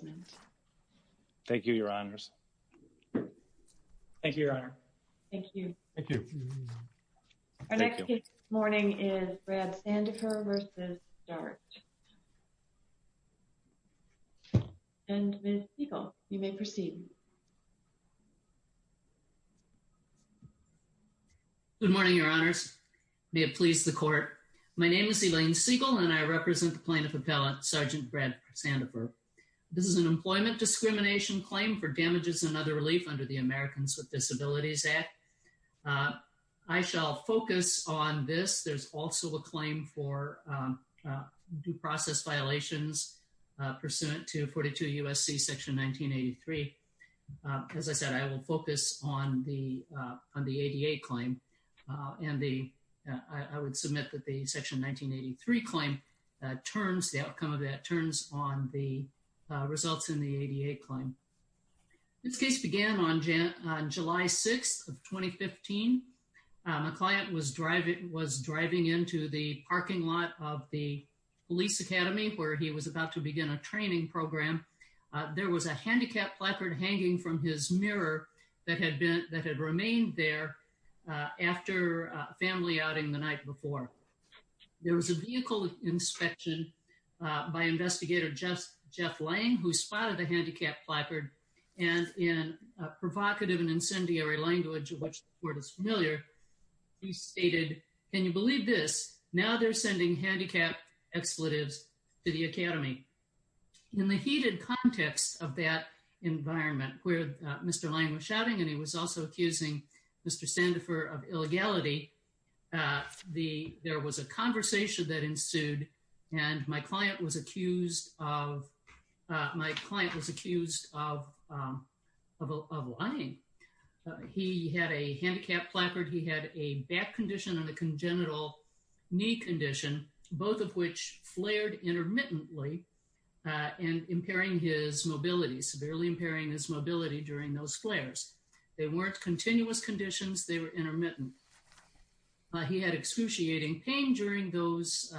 Good morning, your honors. May it please the court. My name is Elaine Siegel and I represent the plaintiff appellate, Sergeant Brad Sandefur. This is an employment discrimination claim for damages and other relief under the Americans with Disabilities Act. I shall focus on this. There's also a claim for due process violations pursuant to 42 U.S.C. section 1983. As I said, I will focus on the ADA claim and I would submit that the section 1983 claim turns, the outcome of that turns on the results in the ADA claim. This case began on July 6th of 2015. A client was driving into the parking lot of the police academy where he was about to begin a training program. There was a handicapped placard hanging from his mirror that had remained there after family outing the night before. There was a vehicle inspection by investigator Jeff Lang who spotted the handicapped placard and in a provocative and incendiary language of which the court is familiar, he stated, can you believe this? Now they're sending handicapped expletives to the academy. In the heated context of that environment where Mr. Lang was shouting and he was also accusing Mr. Sandefur of illegality, there was a conversation that ensued and my client was accused of lying. He had a handicapped placard, he had a back condition and a congenital knee condition, both of which flared intermittently and impairing his mobility, severely impairing his mobility during those flares. They weren't continuous conditions, they were intermittent. He had excruciating pain during those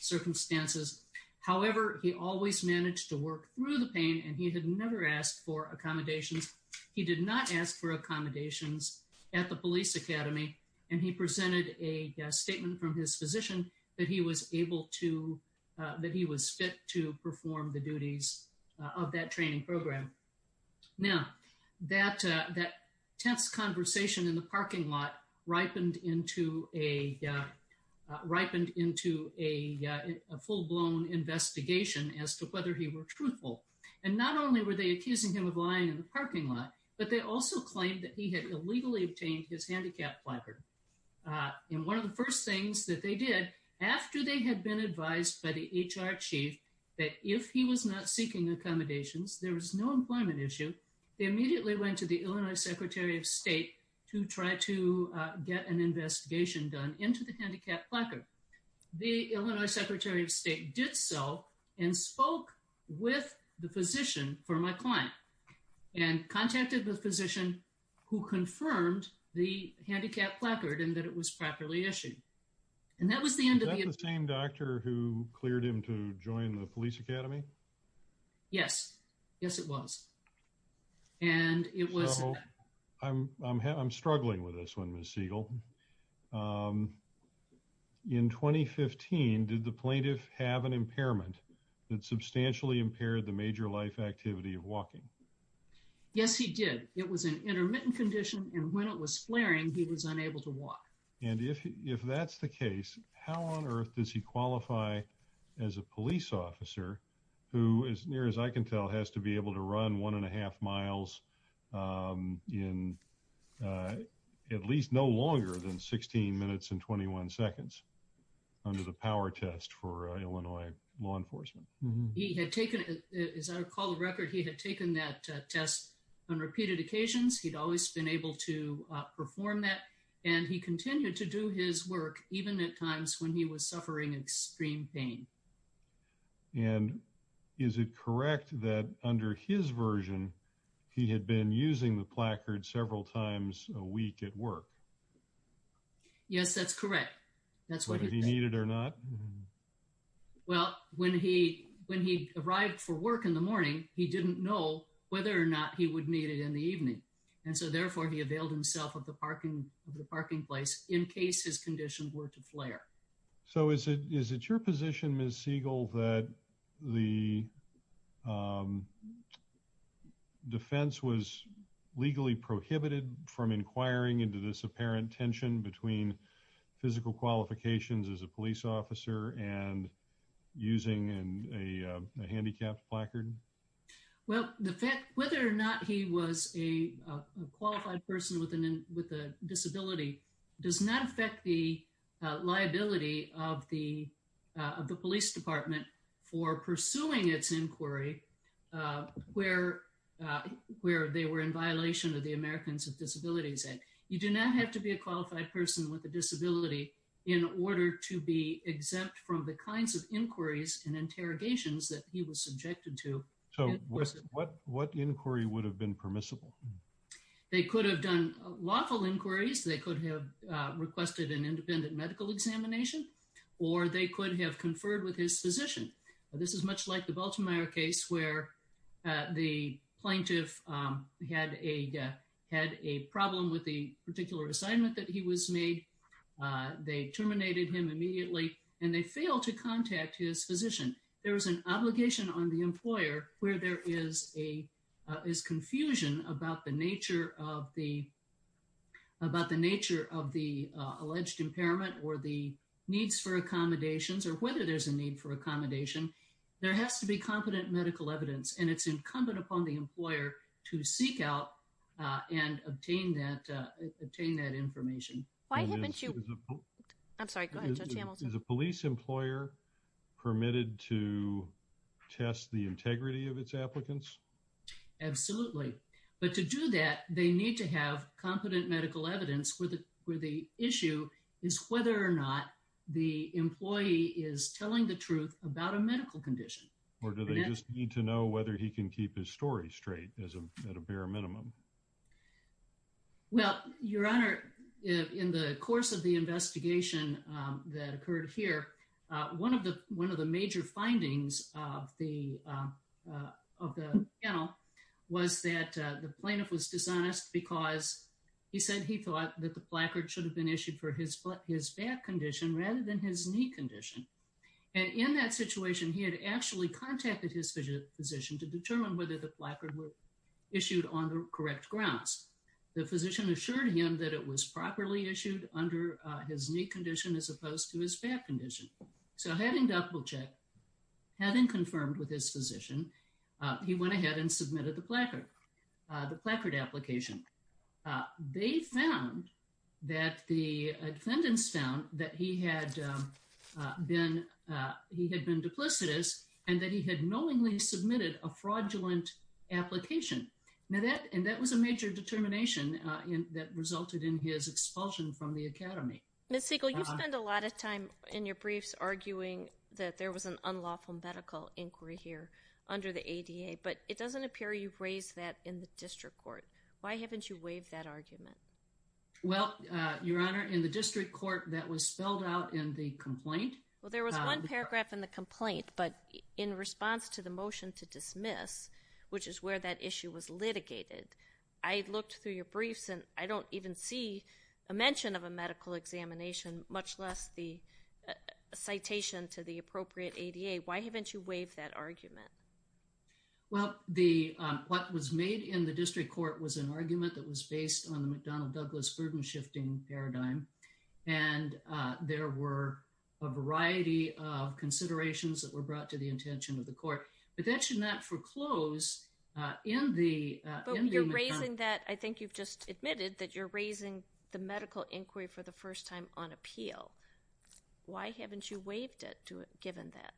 circumstances. However, he always managed to work through the pain and he had never asked for accommodations. He did not ask for accommodations at the police academy and he presented a statement from his physician that he was able to, that he was fit to perform the duties of that training program. Now that tense conversation in the parking lot ripened into a full-blown investigation as to whether he was truthful. And not only were they accusing him of lying in the parking lot, but they also claimed that he had illegally obtained his handicapped placard. And one of the first things that they did, after they had been advised by the HR chief that if he was not seeking accommodations, there was no employment issue, they immediately went to the Illinois Secretary of State to try to get an investigation done into the handicapped placard. The Illinois Secretary of State did so and spoke with the physician for my client and contacted the physician who confirmed the handicapped placard and that it was properly issued. And that was the end of it. Was that the same doctor who cleared him to join the police academy? Yes. Yes, it was. And it was... I'm struggling with this one, Ms. Siegel. In 2015, did the plaintiff have an impairment that substantially impaired the major life activity of walking? Yes, he did. It was an intermittent condition and when it was flaring, he was unable to walk. And if that's the case, how on earth does he qualify as a police officer who, as near as I can tell, has to be able to run one and a half miles in at least no longer than 16 minutes and 21 seconds under the power test for Illinois law enforcement? He had taken, as I recall the record, he had taken that test on repeated occasions. He'd always been able to perform that and he continued to do his work even at times when he was suffering extreme pain. And is it correct that under his version, he had been using the placard several times a week at work? Yes, that's correct. That's what he needed or not. Well, when he when he arrived for work in the morning, he didn't know whether or not he would need it in the evening. And so therefore, he availed himself of the parking of the parking place in case his condition were to flare. So is it your position, Ms. Siegel, that the defense was legally prohibited from inquiring into this apparent tension between physical qualifications as a police officer and using a handicapped placard? Well, the fact whether or not he was a qualified person with a disability does not affect the liability of the police department for pursuing its inquiry where they were in violation of the Americans with Disabilities Act. You do not have to be a qualified person with a disability in order to be exempt from the kinds of inquiries and interrogations that he was subjected to. So what inquiry would have been permissible? They could have done lawful inquiries. They could have requested an independent medical examination or they could have conferred with his physician. This is much like the Baltimore case where the plaintiff had a had a problem with the particular assignment that he was made. They terminated him immediately and they failed to contact his physician. There is an obligation on the employer where there is confusion about the nature of the alleged impairment or the needs for accommodations or whether there's a need for accommodation. There has to be competent medical evidence and it's incumbent upon the employer to seek out and obtain that information. Is a police employer permitted to test the integrity of its applicants? Absolutely, but to do that they need to have competent medical evidence where the issue is whether or not the employee is telling the truth about a medical condition. Or do they just need to know whether he can keep his story straight at a bare minimum? Well, Your Honor, in the course of the investigation that occurred here, one of the one of the major findings of the of the panel was that the plaintiff was dishonest because he said he thought that the placard should have been issued for his back condition rather than his knee condition. And in that situation he had actually contacted his physician to determine whether the placard were issued on the correct grounds. The physician assured him that it was properly issued under his knee condition as opposed to his back condition. So having double checked, having confirmed with his physician, he went ahead and submitted the placard application. They found that the defendants found that he had been duplicitous and that he had knowingly submitted a fraudulent application. And that was a major determination that resulted in his expulsion from the academy. Ms. Siegel, you spend a lot of time in your briefs arguing that there was an unlawful medical inquiry here under the ADA, but it doesn't appear you've raised that in the district court. Why haven't you waived that argument? Well, Your Honor, in the district court that was spelled out in the complaint. Well, there was one paragraph in the complaint, but in response to the motion to dismiss, which is where that issue was litigated, I looked through your briefs and I don't even see a mention of a medical examination, much less the citation to the appropriate ADA. Why haven't you waived that argument? Well, what was made in the district court was an argument that was based on the McDonnell-Douglas burden-shifting paradigm, and there were a variety of considerations that were brought to the intention of the court, but that should not foreclose in the McDonnell-Douglas. But you're raising that, I think you've just admitted that you're raising the medical inquiry for the first time on appeal. Why haven't you waived it given that?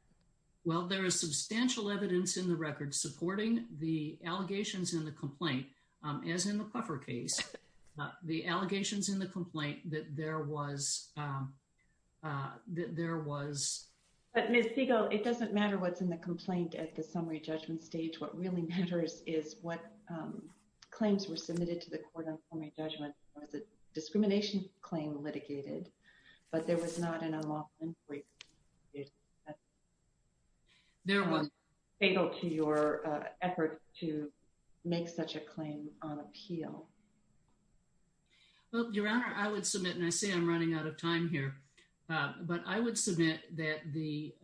Well, there is substantial evidence in the record supporting the allegations in the complaint, as in the Cluffer case, the allegations in the complaint that there was... But Ms. Siegel, it doesn't matter what's in the complaint at the summary judgment stage. What really matters is what claims were submitted to the court on summary judgment. Was a discrimination claim litigated, but there was not an unlawful inquiry. Is there one able to your effort to make such a claim on appeal? Well, Your Honor, I would submit, and I say I'm running out of time here, but I would submit that the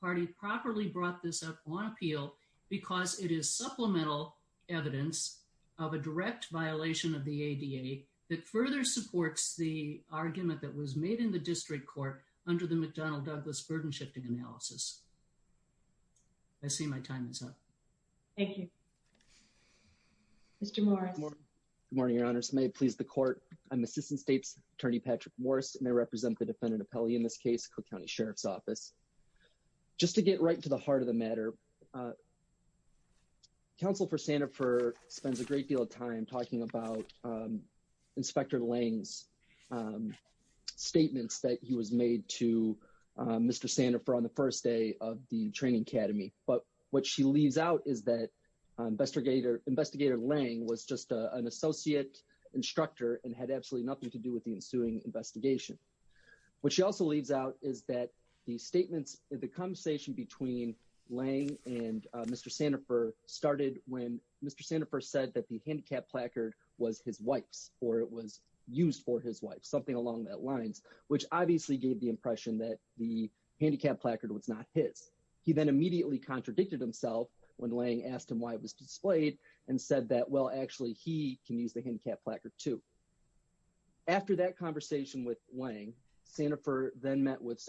party properly brought this up on appeal because it is supplemental evidence of a direct violation of the ADA that further supports the argument that was made in the district court under the McDonnell-Douglas burden shifting analysis. I see my time is up. Thank you. Mr. Morris. Good morning, Your Honor. May it please the court. I'm Assistant States Attorney Patrick Morris and I represent the defendant appellee in this case, Cook County Sheriff's Office. Just to get right to the heart of the matter, uh, Counsel for Sandifer spends a great deal of time talking about Inspector Lange's statements that he was made to Mr. Sandifer on the first day of the training academy, but what she leaves out is that investigator Lange was just an associate instructor and had absolutely nothing to do with the ensuing investigation. What she also leaves out is the statements, the conversation between Lange and Mr. Sandifer started when Mr. Sandifer said that the handicap placard was his wife's or it was used for his wife, something along that lines, which obviously gave the impression that the handicap placard was not his. He then immediately contradicted himself when Lange asked him why it was displayed and said that, well, actually he can use the handicap placard too. After that conversation with Lange, Sandifer then met with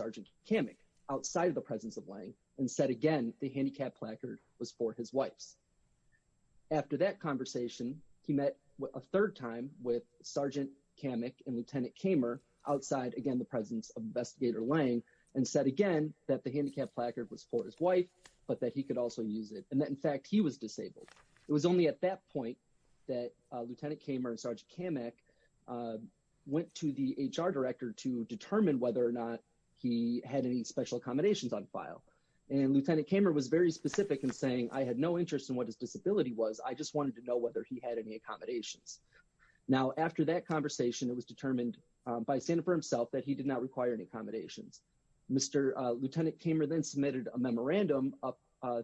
outside of the presence of Lange and said again, the handicap placard was for his wife's. After that conversation, he met a third time with Sergeant Kamek and Lieutenant Kamer outside, again, the presence of investigator Lange and said again that the handicap placard was for his wife, but that he could also use it. And that in fact he was disabled. It was only at that point that to determine whether or not he had any special accommodations on file. And Lieutenant Kamer was very specific in saying I had no interest in what his disability was. I just wanted to know whether he had any accommodations. Now, after that conversation, it was determined by Sandifer himself that he did not require any accommodations. Lieutenant Kamer then submitted a memorandum up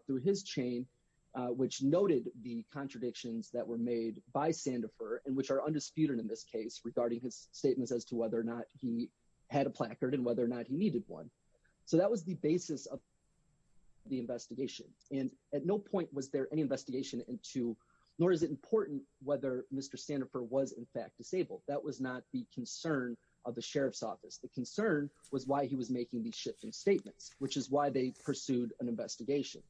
through his chain, which noted the contradictions that were made by Sandifer and which are he had a placard and whether or not he needed one. So that was the basis of the investigation. And at no point was there any investigation into, nor is it important whether Mr. Sandifer was in fact disabled. That was not the concern of the Sheriff's office. The concern was why he was making these shifting statements, which is why they pursued an investigation.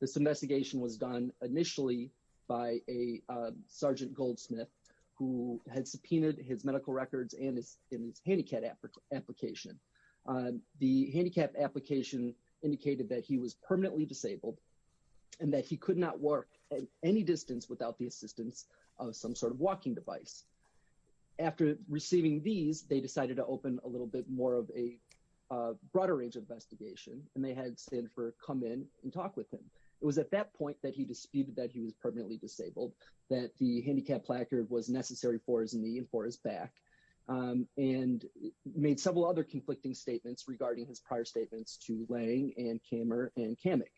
This investigation was done initially by a Sergeant Goldsmith who had subpoenaed his handicap application. The handicap application indicated that he was permanently disabled and that he could not work at any distance without the assistance of some sort of walking device. After receiving these, they decided to open a little bit more of a broader range of investigation and they had Sandifer come in and talk with him. It was at that point that he disputed that he was permanently disabled, that the handicap placard was necessary for his knee and for his back. And made several other conflicting statements regarding his prior statements to Lange and Kammer and Kamek.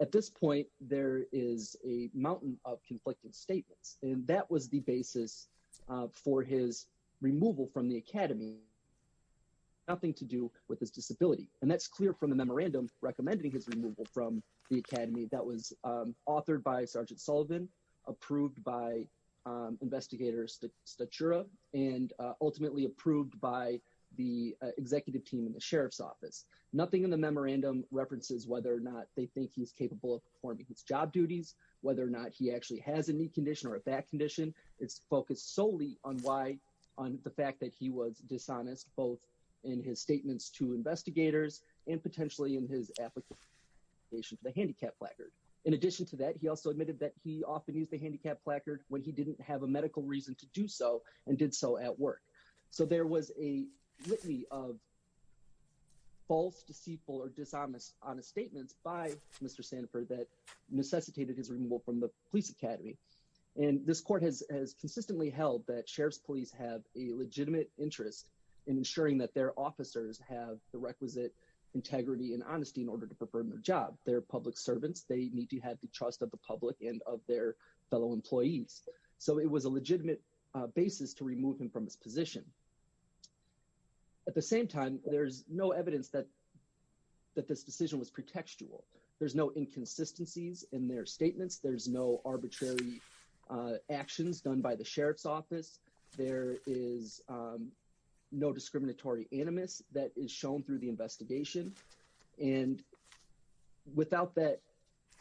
At this point, there is a mountain of conflicted statements and that was the basis for his removal from the academy, nothing to do with his disability. And that's clear from the memorandum recommending his removal from the academy. That was authored by Sergeant Sullivan, approved by Investigator Statura, and ultimately approved by the executive team in the Sheriff's office. Nothing in the memorandum references whether or not they think he's capable of performing his job duties, whether or not he actually has a knee condition or a back condition. It's focused solely on the fact that he was dishonest both in his statements to investigators and potentially in his application for the handicap placard. In addition to that, he also admitted that he often used the handicap placard when he didn't have a medical reason to do so and did so at work. So there was a litany of false, deceitful, or dishonest statements by Mr. Sanford that necessitated his removal from the police academy. And this court has consistently held that Sheriff's police have a legitimate interest in ensuring that their officers have the requisite integrity and honesty in order to perform their job. They're public trust of the public and of their fellow employees. So it was a legitimate basis to remove him from his position. At the same time, there's no evidence that this decision was pretextual. There's no inconsistencies in their statements. There's no arbitrary actions done by the Sheriff's office. There is no discriminatory animus that is shown through the investigation. And without that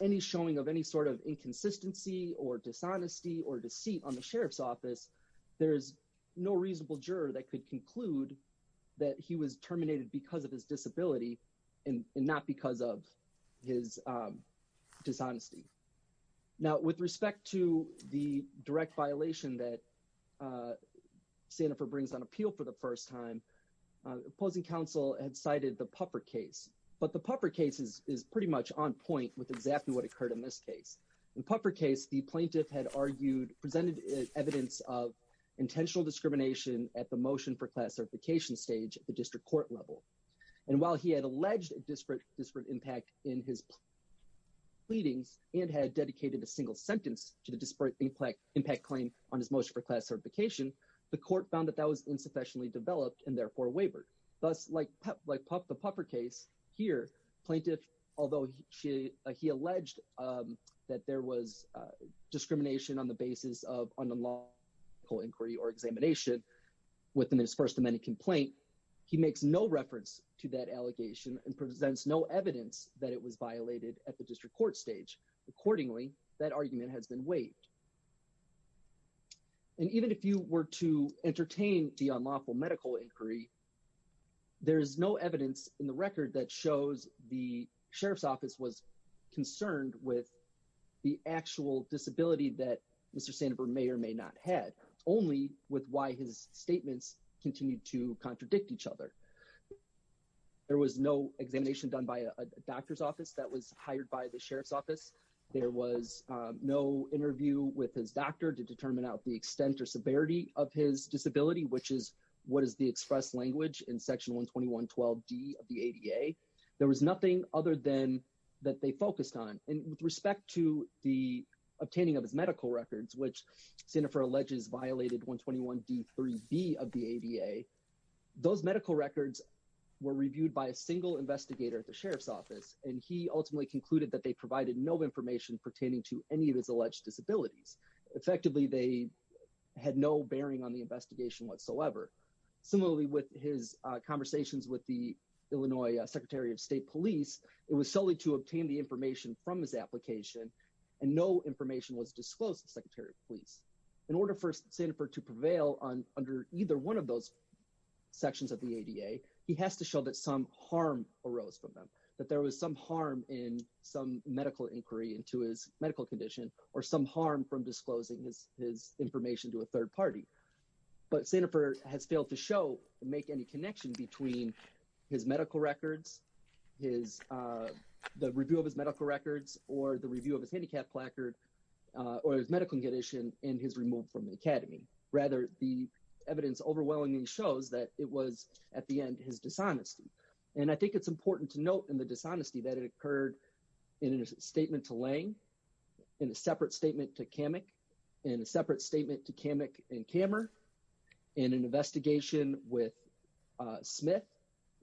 any showing of any sort of inconsistency or dishonesty or deceit on the Sheriff's office, there is no reasonable juror that could conclude that he was terminated because of his disability and not because of his dishonesty. Now with respect to the direct violation that Sanford brings on appeal for the first time, opposing counsel had cited the Puffer case is pretty much on point with exactly what occurred in this case. In Puffer case, the plaintiff had argued presented evidence of intentional discrimination at the motion for class certification stage at the district court level. And while he had alleged disparate impact in his pleadings and had dedicated a single sentence to the disparate impact claim on his motion for class certification, the court found that that was insufficiently developed and therefore wavered. Thus, like the Puffer case here, plaintiff, although he alleged that there was discrimination on the basis of unlawful inquiry or examination within his first amendment complaint, he makes no reference to that allegation and presents no evidence that it was violated at the district court stage. Accordingly, that argument has been waived. And even if you were to entertain the there is no evidence in the record that shows the sheriff's office was concerned with the actual disability that Mr. Sandberg may or may not have, only with why his statements continue to contradict each other. There was no examination done by a doctor's office that was hired by the sheriff's office. There was no interview with his doctor to determine out the extent or severity of his disability, which is what is the express language in section 121.12d of the ADA. There was nothing other than that they focused on. And with respect to the obtaining of his medical records, which Sanford alleges violated 121.d3b of the ADA, those medical records were reviewed by a single investigator at the sheriff's office. And he ultimately concluded that they provided no information pertaining to any of his alleged disabilities. Effectively, they had no bearing on the investigation whatsoever. Similarly, with his conversations with the Illinois Secretary of State Police, it was solely to obtain the information from his application, and no information was disclosed to the Secretary of Police. In order for Sandford to prevail under either one of those sections of the ADA, he has to show that some harm arose from them, that there was some harm in some medical inquiry into his medical condition, or some harm from disclosing his information to a but Sandford has failed to show and make any connection between his medical records, the review of his medical records, or the review of his handicap placard, or his medical condition in his removal from the academy. Rather, the evidence overwhelmingly shows that it was at the end his dishonesty. And I think it's important to note in the dishonesty that it occurred in a statement to Lange, in a separate statement to Kamek, in a separate statement to Kammer, in an investigation with Smith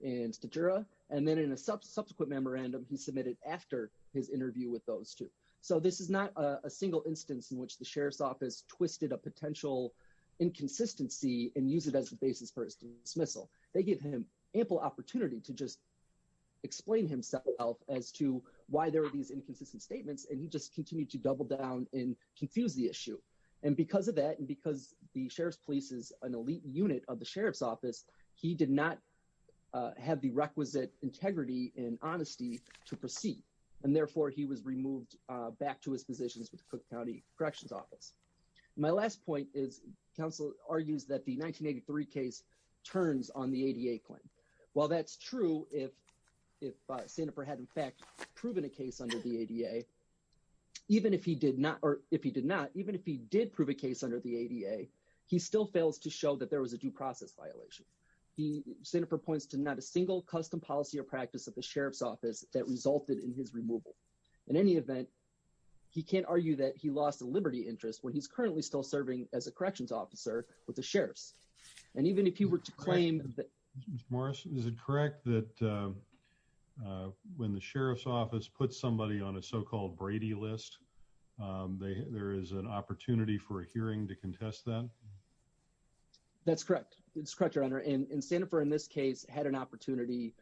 and Statura, and then in a subsequent memorandum he submitted after his interview with those two. So this is not a single instance in which the Sheriff's Office twisted a potential inconsistency and use it as the basis for his dismissal. They give him ample opportunity to just explain himself as to why there are these inconsistent statements, and he just continued to double down and confuse the issue. And because of that, and the Sheriff's Police is an elite unit of the Sheriff's Office, he did not have the requisite integrity and honesty to proceed, and therefore he was removed back to his positions with the Cook County Corrections Office. My last point is counsel argues that the 1983 case turns on the ADA claim. While that's true, if Sandford had in fact proven a case under the ADA, even if he did not, or if he he still fails to show that there was a due process violation. He, Sandford points to not a single custom policy or practice of the Sheriff's Office that resulted in his removal. In any event, he can't argue that he lost a liberty interest when he's currently still serving as a Corrections Officer with the Sheriffs. And even if he were to claim that... Mr. Morris, is it correct that when the Sheriff's Office puts somebody on a so-called Brady list, there is an opportunity for a hearing to contest them? That's correct. It's correct, Your Honor. And Sandford in this case had an opportunity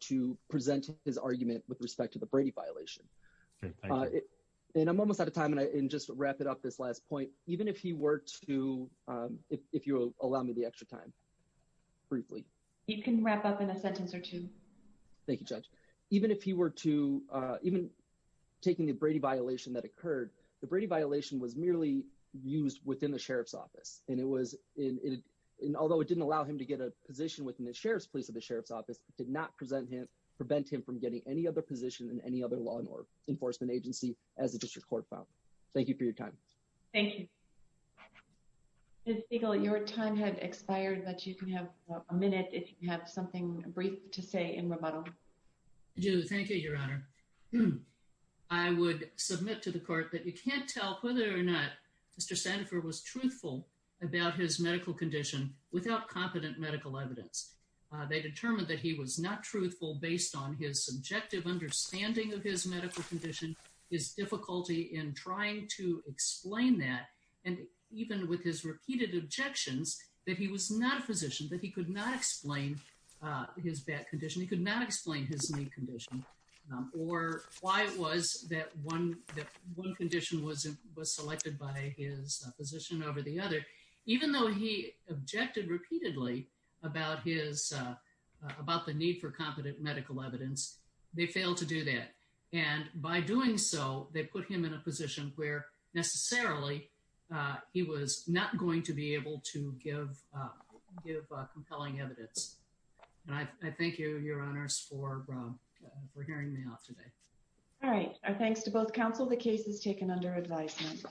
to present his argument with respect to the Brady violation. And I'm almost out of time, and I can just wrap it up this last point. Even if he were to, if you'll allow me the extra time, briefly. You can wrap up in a sentence or two. Thank you, Judge. Even if he used within the Sheriff's Office, and although it didn't allow him to get a position within the Sheriff's Police of the Sheriff's Office, it did not prevent him from getting any other position in any other law enforcement agency as a District Court file. Thank you for your time. Thank you. Judge Siegel, your time had expired, but you can have a minute if you have something brief to say in rebuttal. I do. Thank you, Your Honor. I would submit to the court that you can't tell whether or not Mr. Sandford was truthful about his medical condition without competent medical evidence. They determined that he was not truthful based on his subjective understanding of his medical condition, his difficulty in trying to explain that, and even with his repeated objections that he was not a physician, that he could not explain his back condition. He could not explain his knee condition or why it was that one condition was selected by his physician over the other. Even though he objected repeatedly about the need for competent medical evidence, they failed to do that, and by doing so, they put him in a position where necessarily he was not going to be able to give compelling evidence. And I thank you, Your Honors, for hearing me out today. All right. Our thanks to both counsel. The case is taken under advisement.